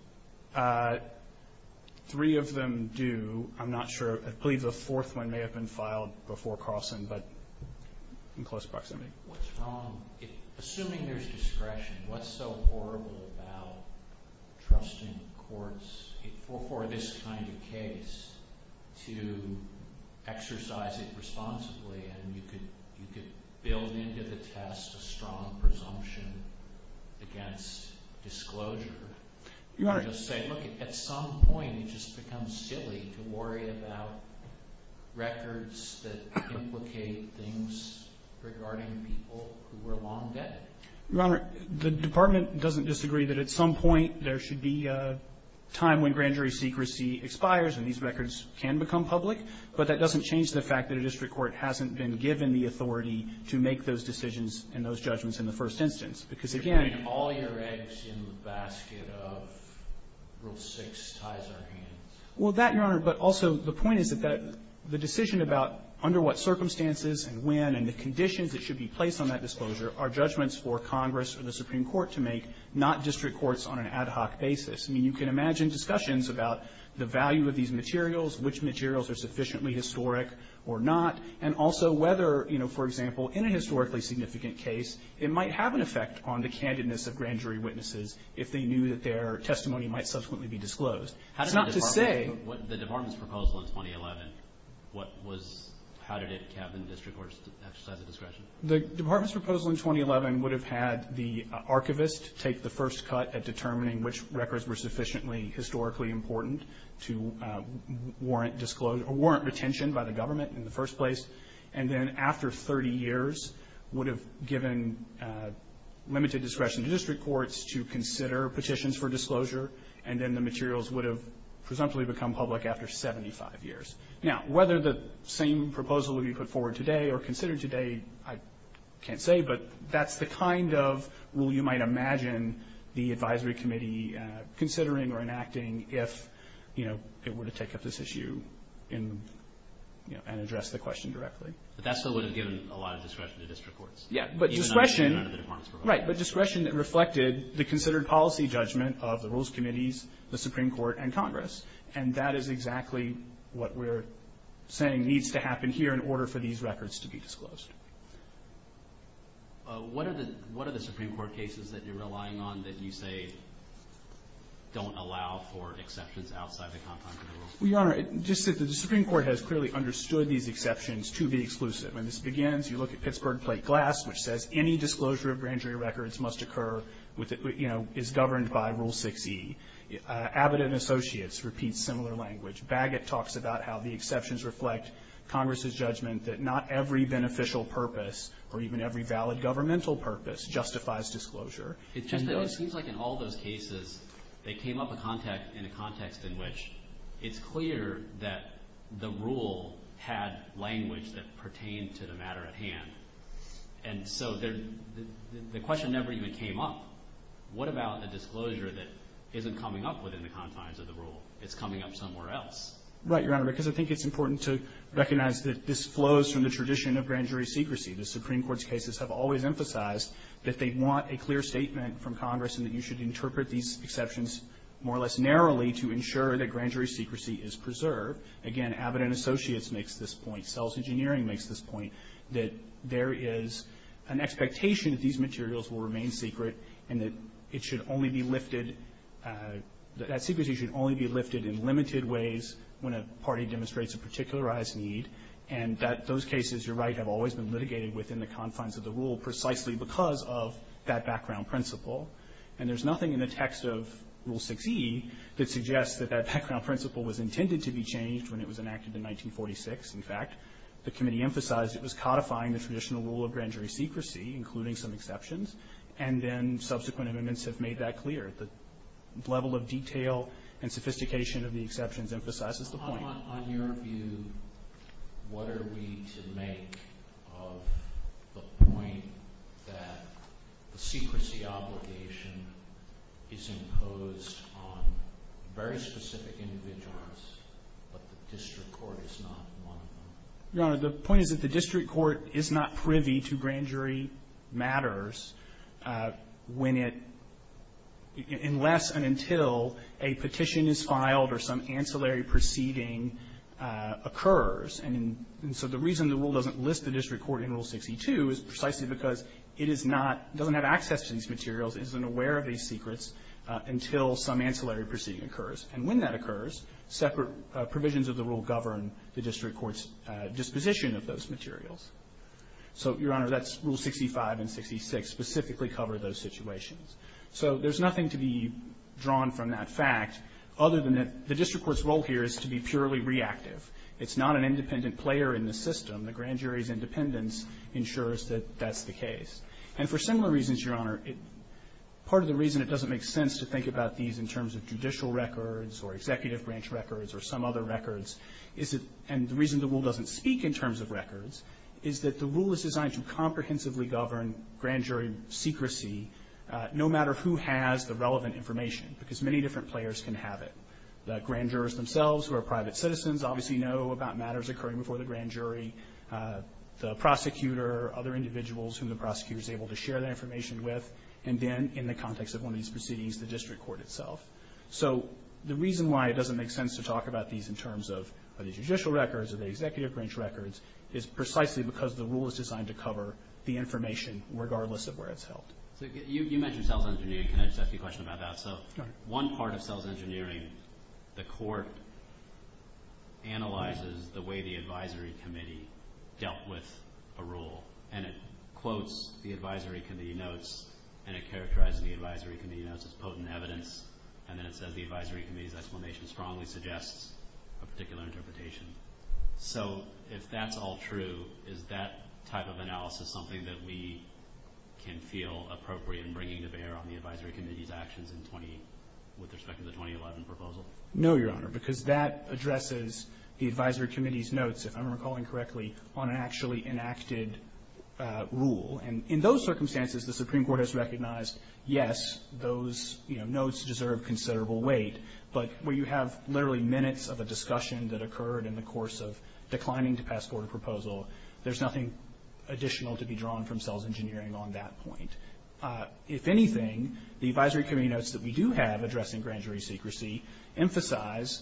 Three of them do. I'm not sure. I believe the fourth one may have been filed before Carlson, but in close proximity. What's wrong? Assuming there's discretion, what's so horrible about trusting courts for this kind of case to exercise it responsibly and you could build into the test a strong presumption against disclosure? Your Honor. I'm just saying, look, at some point it just becomes silly to worry about records that implicate things regarding people who were long dead. Your Honor, the Department doesn't disagree that at some point there should be a time when grand jury secrecy expires and these records can become public, but that doesn't change the fact that a district court hasn't been given the authority to make those decisions and those judgments in the first instance. Because, again All your eggs in the basket of Rule 6 ties our hands. Well, that, Your Honor, but also the point is that the decision about under what circumstances and when and the conditions that should be placed on that disclosure are judgments for Congress or the Supreme Court to make, not district courts on an ad hoc basis. I mean, you can imagine discussions about the value of these materials, which materials are sufficiently historic or not, and also whether, you know, for example, in a historically significant case it might have an effect on the candidness of grand jury witnesses if they knew that their testimony might subsequently be disclosed. It's not to say... How did the Department's proposal in 2011, what was, how did it have the district courts exercise the discretion? The Department's proposal in 2011 would have had the archivist take the first cut at determining which records were sufficiently historically important to warrant retention by the government in the first place, and then after 30 years would have given limited discretion to district courts to consider petitions for disclosure, and then the materials would have presumptively become public after 75 years. Now, whether the same proposal would be put forward today or considered today, I can't say, but that's the kind of rule you might imagine the advisory committee considering or enacting if, you know, it were to take up this issue in, you know, and address the question directly. But that still would have given a lot of discretion to district courts. Yeah, but discretion... Even under the Department's proposal. Right, but discretion that reflected the considered policy judgment of the Rules Committees, the Supreme Court, and Congress, and that is exactly what we're saying needs to happen here in order for these records to be disclosed. What are the Supreme Court cases that you're relying on that you say don't allow for exceptions outside the context of the rules? Well, Your Honor, just that the Supreme Court has clearly understood these exceptions to be exclusive. When this begins, you look at Pittsburgh Plate Glass, which says any disclosure of grand jury records must occur with, you know, is governed by Rule 6e. Abbott & Associates repeats similar language. Bagot talks about how the exceptions reflect Congress's judgment that not every beneficial purpose or even every valid governmental purpose justifies disclosure. It's just that it seems like in all those cases, they came up in a context in which it's clear that the rule had language that pertained to the matter at hand. And so the question never even came up. What about the disclosure that isn't coming up within the confines of the rule? It's coming up somewhere else. Right, Your Honor, because I think it's important to recognize that this flows from the tradition of grand jury secrecy. The Supreme Court's cases have always emphasized that they want a clear statement from Congress and that you should interpret these exceptions more or less narrowly to ensure that grand jury secrecy is preserved. Again, Abbott & Associates makes this point. Sells Engineering makes this point, that there is an expectation that these materials will remain secret and that it should only be lifted, that secrecy should only be lifted in limited ways when a party demonstrates a particularized need. And that those cases, you're right, have always been litigated within the confines of the rule precisely because of that background principle. And there's nothing in the text of Rule 6e that suggests that that background principle was intended to be changed when it was enacted in 1946. In fact, the committee emphasized it was codifying the traditional rule of grand jury secrecy, including some exceptions. And then subsequent amendments have made that clear. The level of detail and sophistication of the exceptions emphasizes the point. Sotomayor, on your view, what are we to make of the point that the secrecy obligation is imposed on very specific individuals, but the district court is not one of them? Your Honor, the point is that the district court is not privy to grand jury matters when it unless and until a petition is filed or some ancillary proceeding occurs. And so the reason the rule doesn't list the district court in Rule 6e-2 is precisely because it is not doesn't have access to these materials, isn't aware of these secrets until some ancillary proceeding occurs. And when that occurs, separate provisions of the rule govern the district court's disposition of those materials. So, Your Honor, that's Rule 6e-5 and 6e-6 specifically cover those situations. So there's nothing to be drawn from that fact other than that the district court's role here is to be purely reactive. It's not an independent player in the system. The grand jury's independence ensures that that's the case. And for similar reasons, Your Honor, part of the reason it doesn't make sense to think about these in terms of judicial records or executive branch records or some other is that the rule is designed to comprehensively govern grand jury secrecy no matter who has the relevant information because many different players can have it. The grand jurors themselves who are private citizens obviously know about matters occurring before the grand jury, the prosecutor, other individuals whom the prosecutor is able to share that information with, and then in the context of one of these proceedings, the district court itself. So the reason why it doesn't make sense to talk about these in terms of the judicial branch records is precisely because the rule is designed to cover the information regardless of where it's held. So you mentioned sales engineering. Can I just ask you a question about that? Sure. So one part of sales engineering, the court analyzes the way the advisory committee dealt with a rule, and it quotes the advisory committee notes and it characterizes the advisory committee notes as potent evidence, and then it says the advisory committee's explanation strongly suggests a particular interpretation. So if that's all true, is that type of analysis something that we can feel appropriate in bringing to bear on the advisory committee's actions with respect to the 2011 proposal? No, Your Honor, because that addresses the advisory committee's notes, if I'm recalling correctly, on an actually enacted rule. And in those circumstances, the Supreme Court has recognized, yes, those notes deserve considerable weight, but where you have literally minutes of a discussion that occurred in the course of declining to pass forward a proposal, there's nothing additional to be drawn from sales engineering on that point. If anything, the advisory committee notes that we do have addressing grand jury secrecy emphasize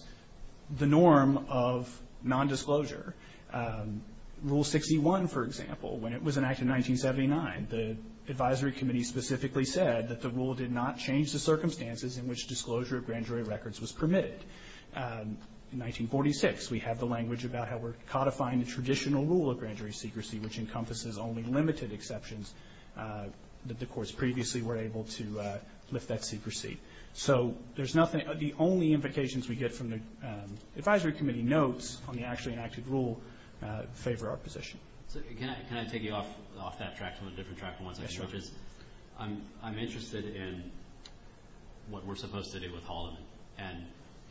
the norm of nondisclosure. Rule 61, for example, when it was enacted in 1979, the advisory committee specifically said that the rule did not change the circumstances in which disclosure of grand jury secrecy. Rule 66, we have the language about how we're codifying the traditional rule of grand jury secrecy, which encompasses only limited exceptions that the courts previously were able to lift that secrecy. So there's nothing, the only implications we get from the advisory committee notes on the actually enacted rule favor our position. Can I take you off that track to a different track from the ones I've discussed? Yes, Your Honor. I'm interested in what we're supposed to do with Holloman.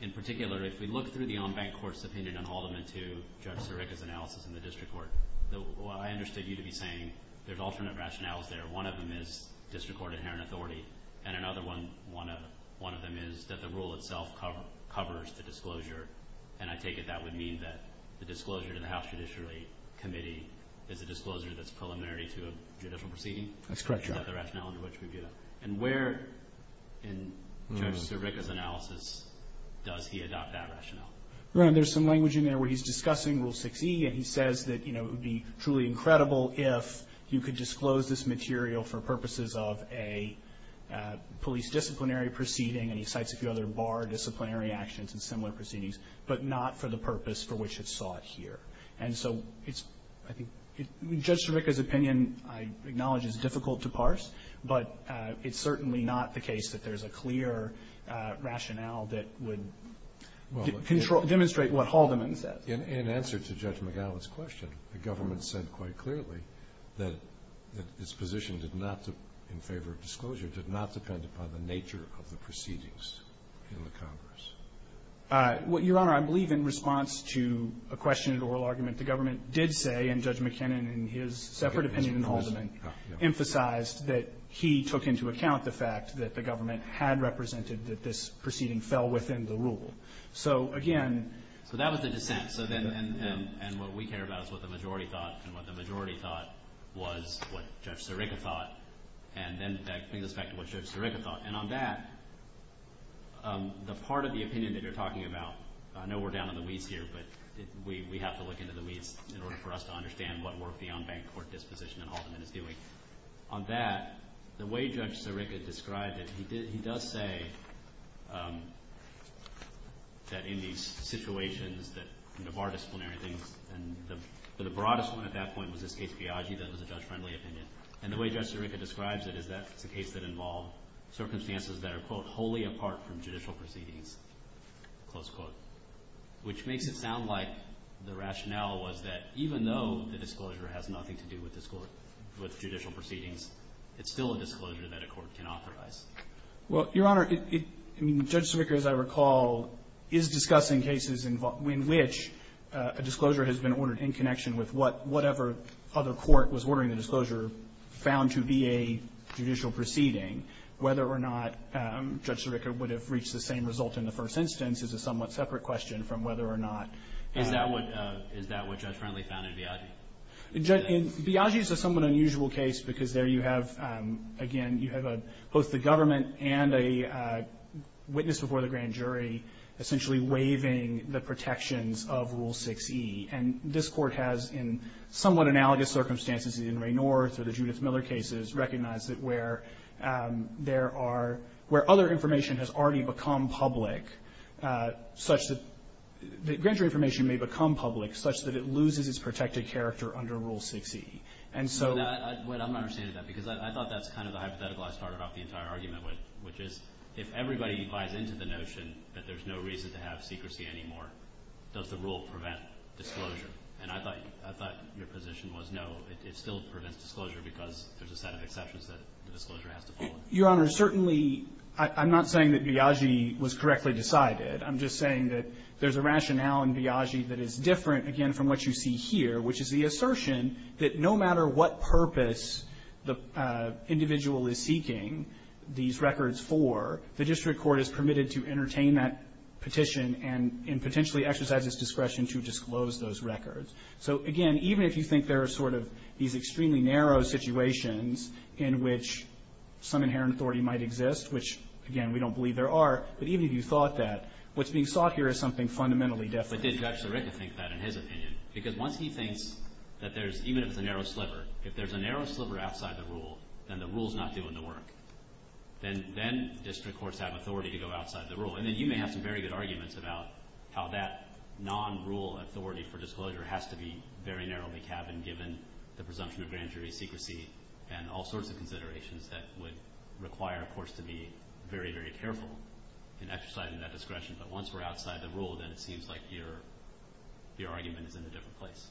In particular, if we look through the on-bank court's opinion on Holloman 2, Judge Sirica's analysis in the district court, I understood you to be saying there's alternate rationales there. One of them is district court inherent authority, and another one of them is that the rule itself covers the disclosure. I take it that would mean that the disclosure to the House Judiciary Committee is a disclosure That's correct, Your Honor. under which we get it. And where in Judge Sirica's analysis does he adopt that rationale? Your Honor, there's some language in there where he's discussing Rule 6e, and he says that it would be truly incredible if you could disclose this material for purposes of a police disciplinary proceeding, and he cites a few other bar disciplinary actions and similar proceedings, but not for the purpose for which it's sought here. And so it's, I think, Judge Sirica's opinion, I acknowledge, is difficult to parse, but it's certainly not the case that there's a clear rationale that would demonstrate what Holloman said. In answer to Judge McGowan's question, the government said quite clearly that its position did not, in favor of disclosure, did not depend upon the nature of the proceedings in the Congress. Your Honor, I believe in response to a question in an oral argument, the government did say, and Judge McKinnon, in his separate opinion in the Holloman, emphasized that he took into account the fact that the government had represented that this proceeding fell within the rule. So, again So that was the dissent, and what we care about is what the majority thought, and what the majority thought was what Judge Sirica thought, and then that brings us back to what Judge Sirica thought. And on that, the part of the opinion that you're talking about, I know we're down in the weeds here, but we have to look into the weeds in order for us to understand what work the on-bank court disposition in Holloman is doing. On that, the way Judge Sirica described it, he does say that in these situations that, you know, bar disciplinary things, and the broadest one at that point was this case Piaggi, that was a judge-friendly opinion, and the way Judge Sirica describes it is that it's a case that involved circumstances that are, quote, wholly apart from judicial proceedings, close quote, which makes it sound like the rationale was that even though the disclosure has nothing to do with judicial proceedings, it's still a disclosure that a court can authorize. Well, Your Honor, I mean, Judge Sirica, as I recall, is discussing cases in which a disclosure has been ordered in connection with whatever other court was ordering the disclosure found to be a judicial proceeding. Whether or not Judge Sirica would have reached the same result in the first instance is a somewhat separate question from whether or not. Is that what Judge Friendly found in Piaggi? In Piaggi, it's a somewhat unusual case because there you have, again, you have both the government and a witness before the grand jury essentially waiving the protections of Rule 6e. And this Court has, in somewhat analogous circumstances in Raynorth or the Judith Miller cases, recognized that where there are, where other information has already become public, such that the grand jury information may become public such that it loses its protected character under Rule 6e. And so. But I'm not understanding that because I thought that's kind of the hypothetical I started off the entire argument with, which is if everybody buys into the notion that there's no reason to have secrecy anymore, does the rule prevent disclosure? And I thought your position was, no, it still prevents disclosure because there's a set of exceptions that the disclosure has to follow. Your Honor, certainly I'm not saying that Piaggi was correctly decided. I'm just saying that there's a rationale in Piaggi that is different, again, from what you see here, which is the assertion that no matter what purpose the individual is seeking these records for, the district court is permitted to entertain that petition and potentially exercise its discretion to disclose those records. So, again, even if you think there are sort of these extremely narrow situations in which some inherent authority might exist, which, again, we don't believe there are, but even if you thought that, what's being sought here is something fundamentally different. But did Judge Sarekha think that in his opinion? Because once he thinks that there's, even if it's a narrow sliver, if there's a narrow sliver of what he's doing to work, then district courts have authority to go outside the rule. And then you may have some very good arguments about how that non-rule authority for disclosure has to be very narrowly cabined given the presumption of grand jury secrecy and all sorts of considerations that would require, of course, to be very, very careful in exercising that discretion. But once we're outside the rule, then it seems like your argument is in a different place.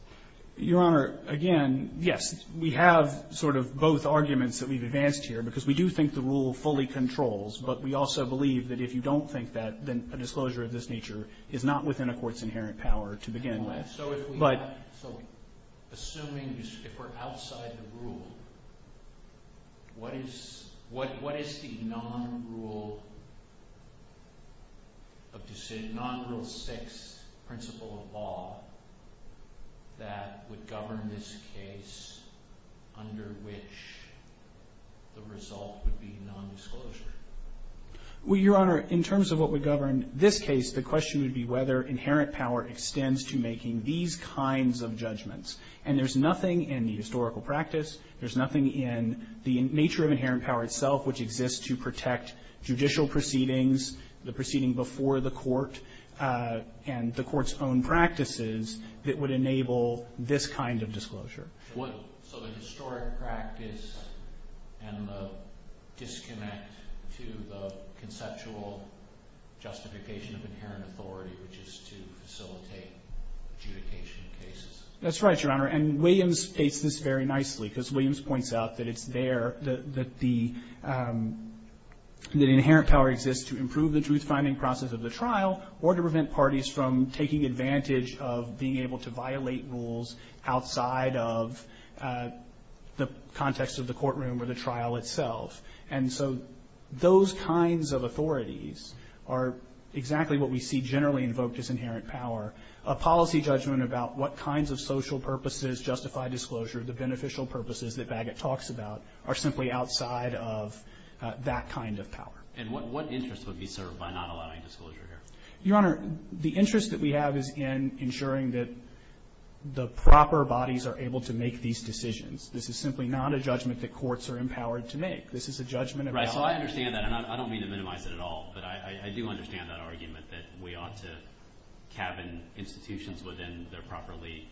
Your Honor, again, yes, we have sort of both arguments that we've advanced here. Because we do think the rule fully controls, but we also believe that if you don't think that, then a disclosure of this nature is not within a court's inherent power to begin with. So assuming if we're outside the rule, what is the non-rule six principle of law that would govern this case under which the result would be nondisclosure? Well, Your Honor, in terms of what would govern this case, the question would be whether inherent power extends to making these kinds of judgments. And there's nothing in the historical practice, there's nothing in the nature of inherent power itself which exists to protect judicial proceedings, the proceeding before the this kind of disclosure. So the historic practice and the disconnect to the conceptual justification of inherent authority, which is to facilitate adjudication cases? That's right, Your Honor. And Williams states this very nicely, because Williams points out that it's there, that the inherent power exists to improve the truth-finding process of the trial or to prevent outside of the context of the courtroom or the trial itself. And so those kinds of authorities are exactly what we see generally invoked as inherent power. A policy judgment about what kinds of social purposes justify disclosure, the beneficial purposes that Bagot talks about, are simply outside of that kind of power. And what interest would be served by not allowing disclosure here? Your Honor, the interest that we have is in ensuring that the proper bodies are able to make these decisions. This is simply not a judgment that courts are empowered to make. This is a judgment about the law. Right. So I understand that. And I don't mean to minimize it at all, but I do understand that argument that we ought to cabin institutions within their properly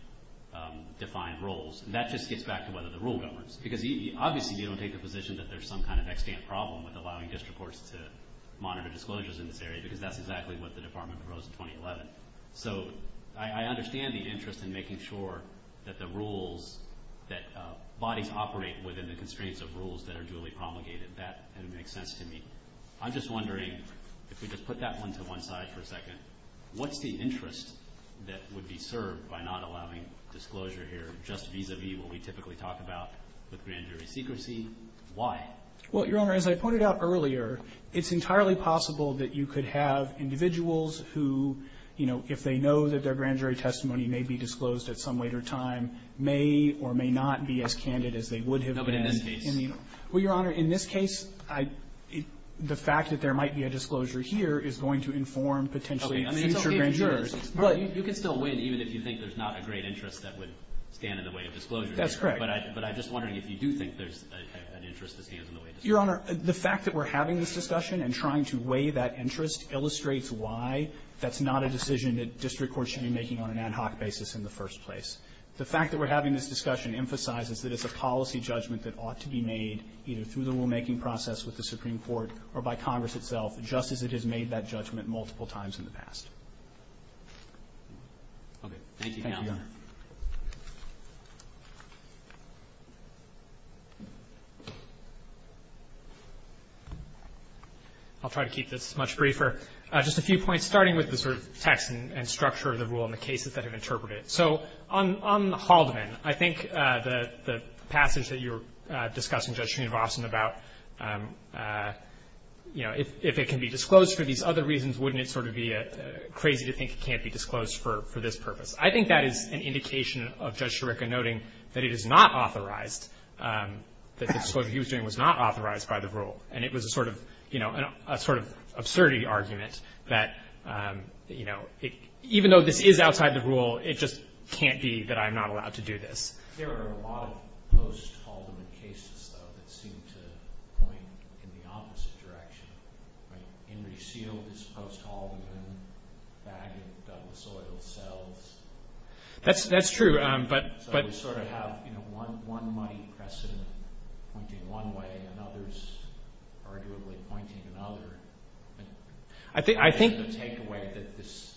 defined roles. And that just gets back to whether the rule governs. Because obviously they don't take the position that there's some kind of extant problem with allowing district courts to monitor disclosures in this area, because that's exactly what the Department proposed in 2011. So I understand the interest in making sure that the rules, that bodies operate within the constraints of rules that are duly promulgated. That makes sense to me. I'm just wondering, if we just put that one to one side for a second, what's the interest that would be served by not allowing disclosure here just vis-a-vis what we typically talk about with grand jury secrecy? Why? Well, Your Honor, as I pointed out earlier, it's entirely possible that you could have individuals who, you know, if they know that their grand jury testimony may be disclosed at some later time, may or may not be as candid as they would have been in this case. No, but in this case. Well, Your Honor, in this case, the fact that there might be a disclosure here is going to inform potentially future grand jurors. Okay. I mean, it's okay if it's not. You can still win even if you think there's not a great interest that would stand in the way of disclosure. That's correct. But I'm just wondering if you do think there's an interest that stands in the way of disclosure. Your Honor, the fact that we're having this discussion and trying to weigh that interest illustrates why that's not a decision that district courts should be making on an ad hoc basis in the first place. The fact that we're having this discussion emphasizes that it's a policy judgment that ought to be made either through the rulemaking process with the Supreme Court or by Congress itself, just as it has made that judgment multiple times in the past. Okay. Thank you, Your Honor. Thank you. I'll try to keep this much briefer. Just a few points, starting with the sort of text and structure of the rule and the cases that have interpreted it. So on Haldeman, I think the passage that you were discussing, Judge Schoonvason, about, you know, if it can be disclosed for these other reasons, wouldn't it sort of be crazy to think it can't be disclosed for this purpose? I think that is an indication of Judge Sciarica noting that it is not authorized, that the disclosure he was doing was not authorized by the rule. And it was a sort of, you know, a sort of absurdity argument that, you know, even though this is outside the rule, it just can't be that I'm not allowed to do this. There are a lot of post-Haldeman cases, though, that seem to point in the opposite direction. Henry Seale is post-Haldeman. Bag of Douglas oil sells. That's true, but... So we sort of have, you know, one muddy precedent pointing one way and others arguably pointing another. I think the takeaway that this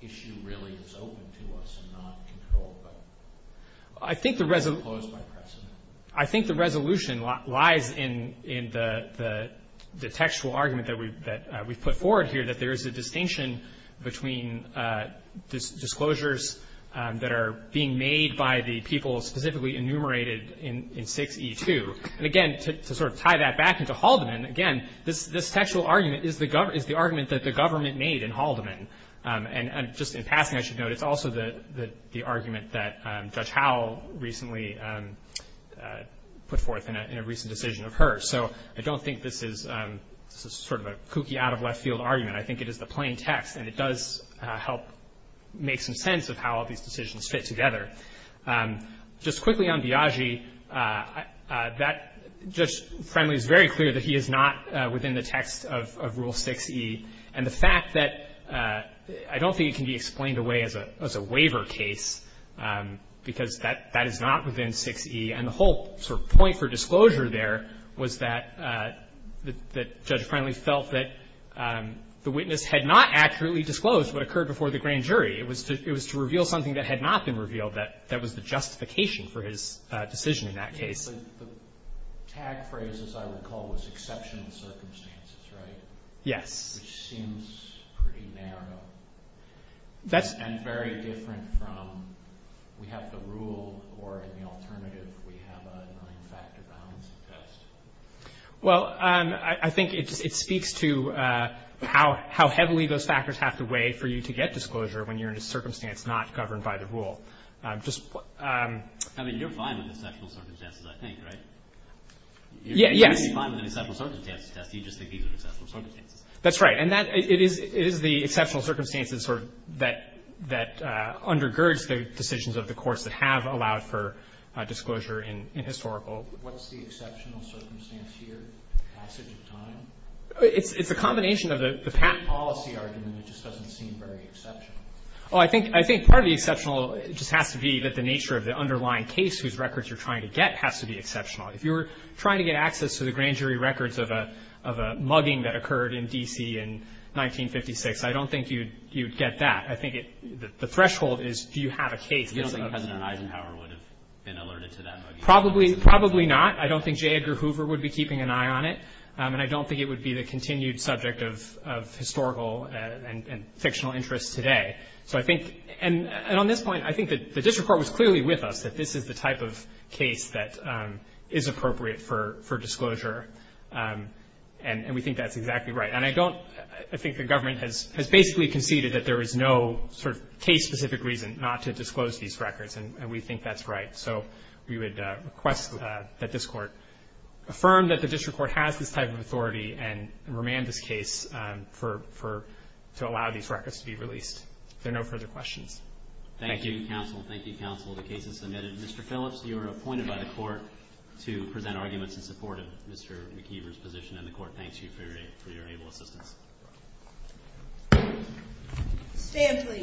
issue really is open to us and not controlled by... I think the resolution... Or imposed by precedent. I think the resolution lies in the textual argument that we've put forward here, that there is a distinction between disclosures that are being made by the people specifically enumerated in 6E2. And again, to sort of tie that back into Haldeman, again, this textual argument is the argument that the government made in Haldeman. And just in passing, I should note, it's also the argument that Judge Howell recently put forth in a recent decision of hers. So I don't think this is sort of a kooky, out-of-left-field argument. I think it is the plain text, and it does help make some sense of how all these decisions fit together. Just quickly on Biagi, Judge Friendly is very clear that he is not within the text of I don't think it can be explained away as a waiver case because that is not within 6E. And the whole sort of point for disclosure there was that Judge Friendly felt that the witness had not accurately disclosed what occurred before the grand jury. It was to reveal something that had not been revealed that was the justification for his decision in that case. The tag phrase, as I recall, was exceptional circumstances, right? Yes. Which seems pretty narrow and very different from we have the rule or in the alternative we have a nine-factor balance test. Well, I think it speaks to how heavily those factors have to weigh for you to get disclosure when you're in a circumstance not governed by the rule. I mean, you're fine with exceptional circumstances, I think, right? Yes. That's right. And it is the exceptional circumstances sort of that undergirds the decisions of the courts that have allowed for disclosure in historical. What's the exceptional circumstance here, passage of time? It's a combination of the policy argument. It just doesn't seem very exceptional. Well, I think part of the exceptional just has to be that the nature of the underlying case whose records you're trying to get has to be exceptional. If you were trying to get access to the grand jury records of a mugging that occurred in D.C. in 1956, I don't think you'd get that. I think the threshold is do you have a case. You don't think President Eisenhower would have been alerted to that mugging? Probably not. I don't think J. Edgar Hoover would be keeping an eye on it. And I don't think it would be the continued subject of historical and fictional interest today. So I think — and on this point, I think the district court was clearly with us that this is the type of case that is appropriate for disclosure. And we think that's exactly right. And I don't — I think the government has basically conceded that there is no sort of case-specific reason not to disclose these records, and we think that's right. So we would request that this court affirm that the district court has this type of authority and remand this case for — to allow these records to be released. Thank you. Thank you, counsel. Thank you, counsel. The case is submitted. Mr. Phillips, you are appointed by the court to present arguments in support of Mr. McKeever's position, and the court thanks you for your able assistance. Stand, please.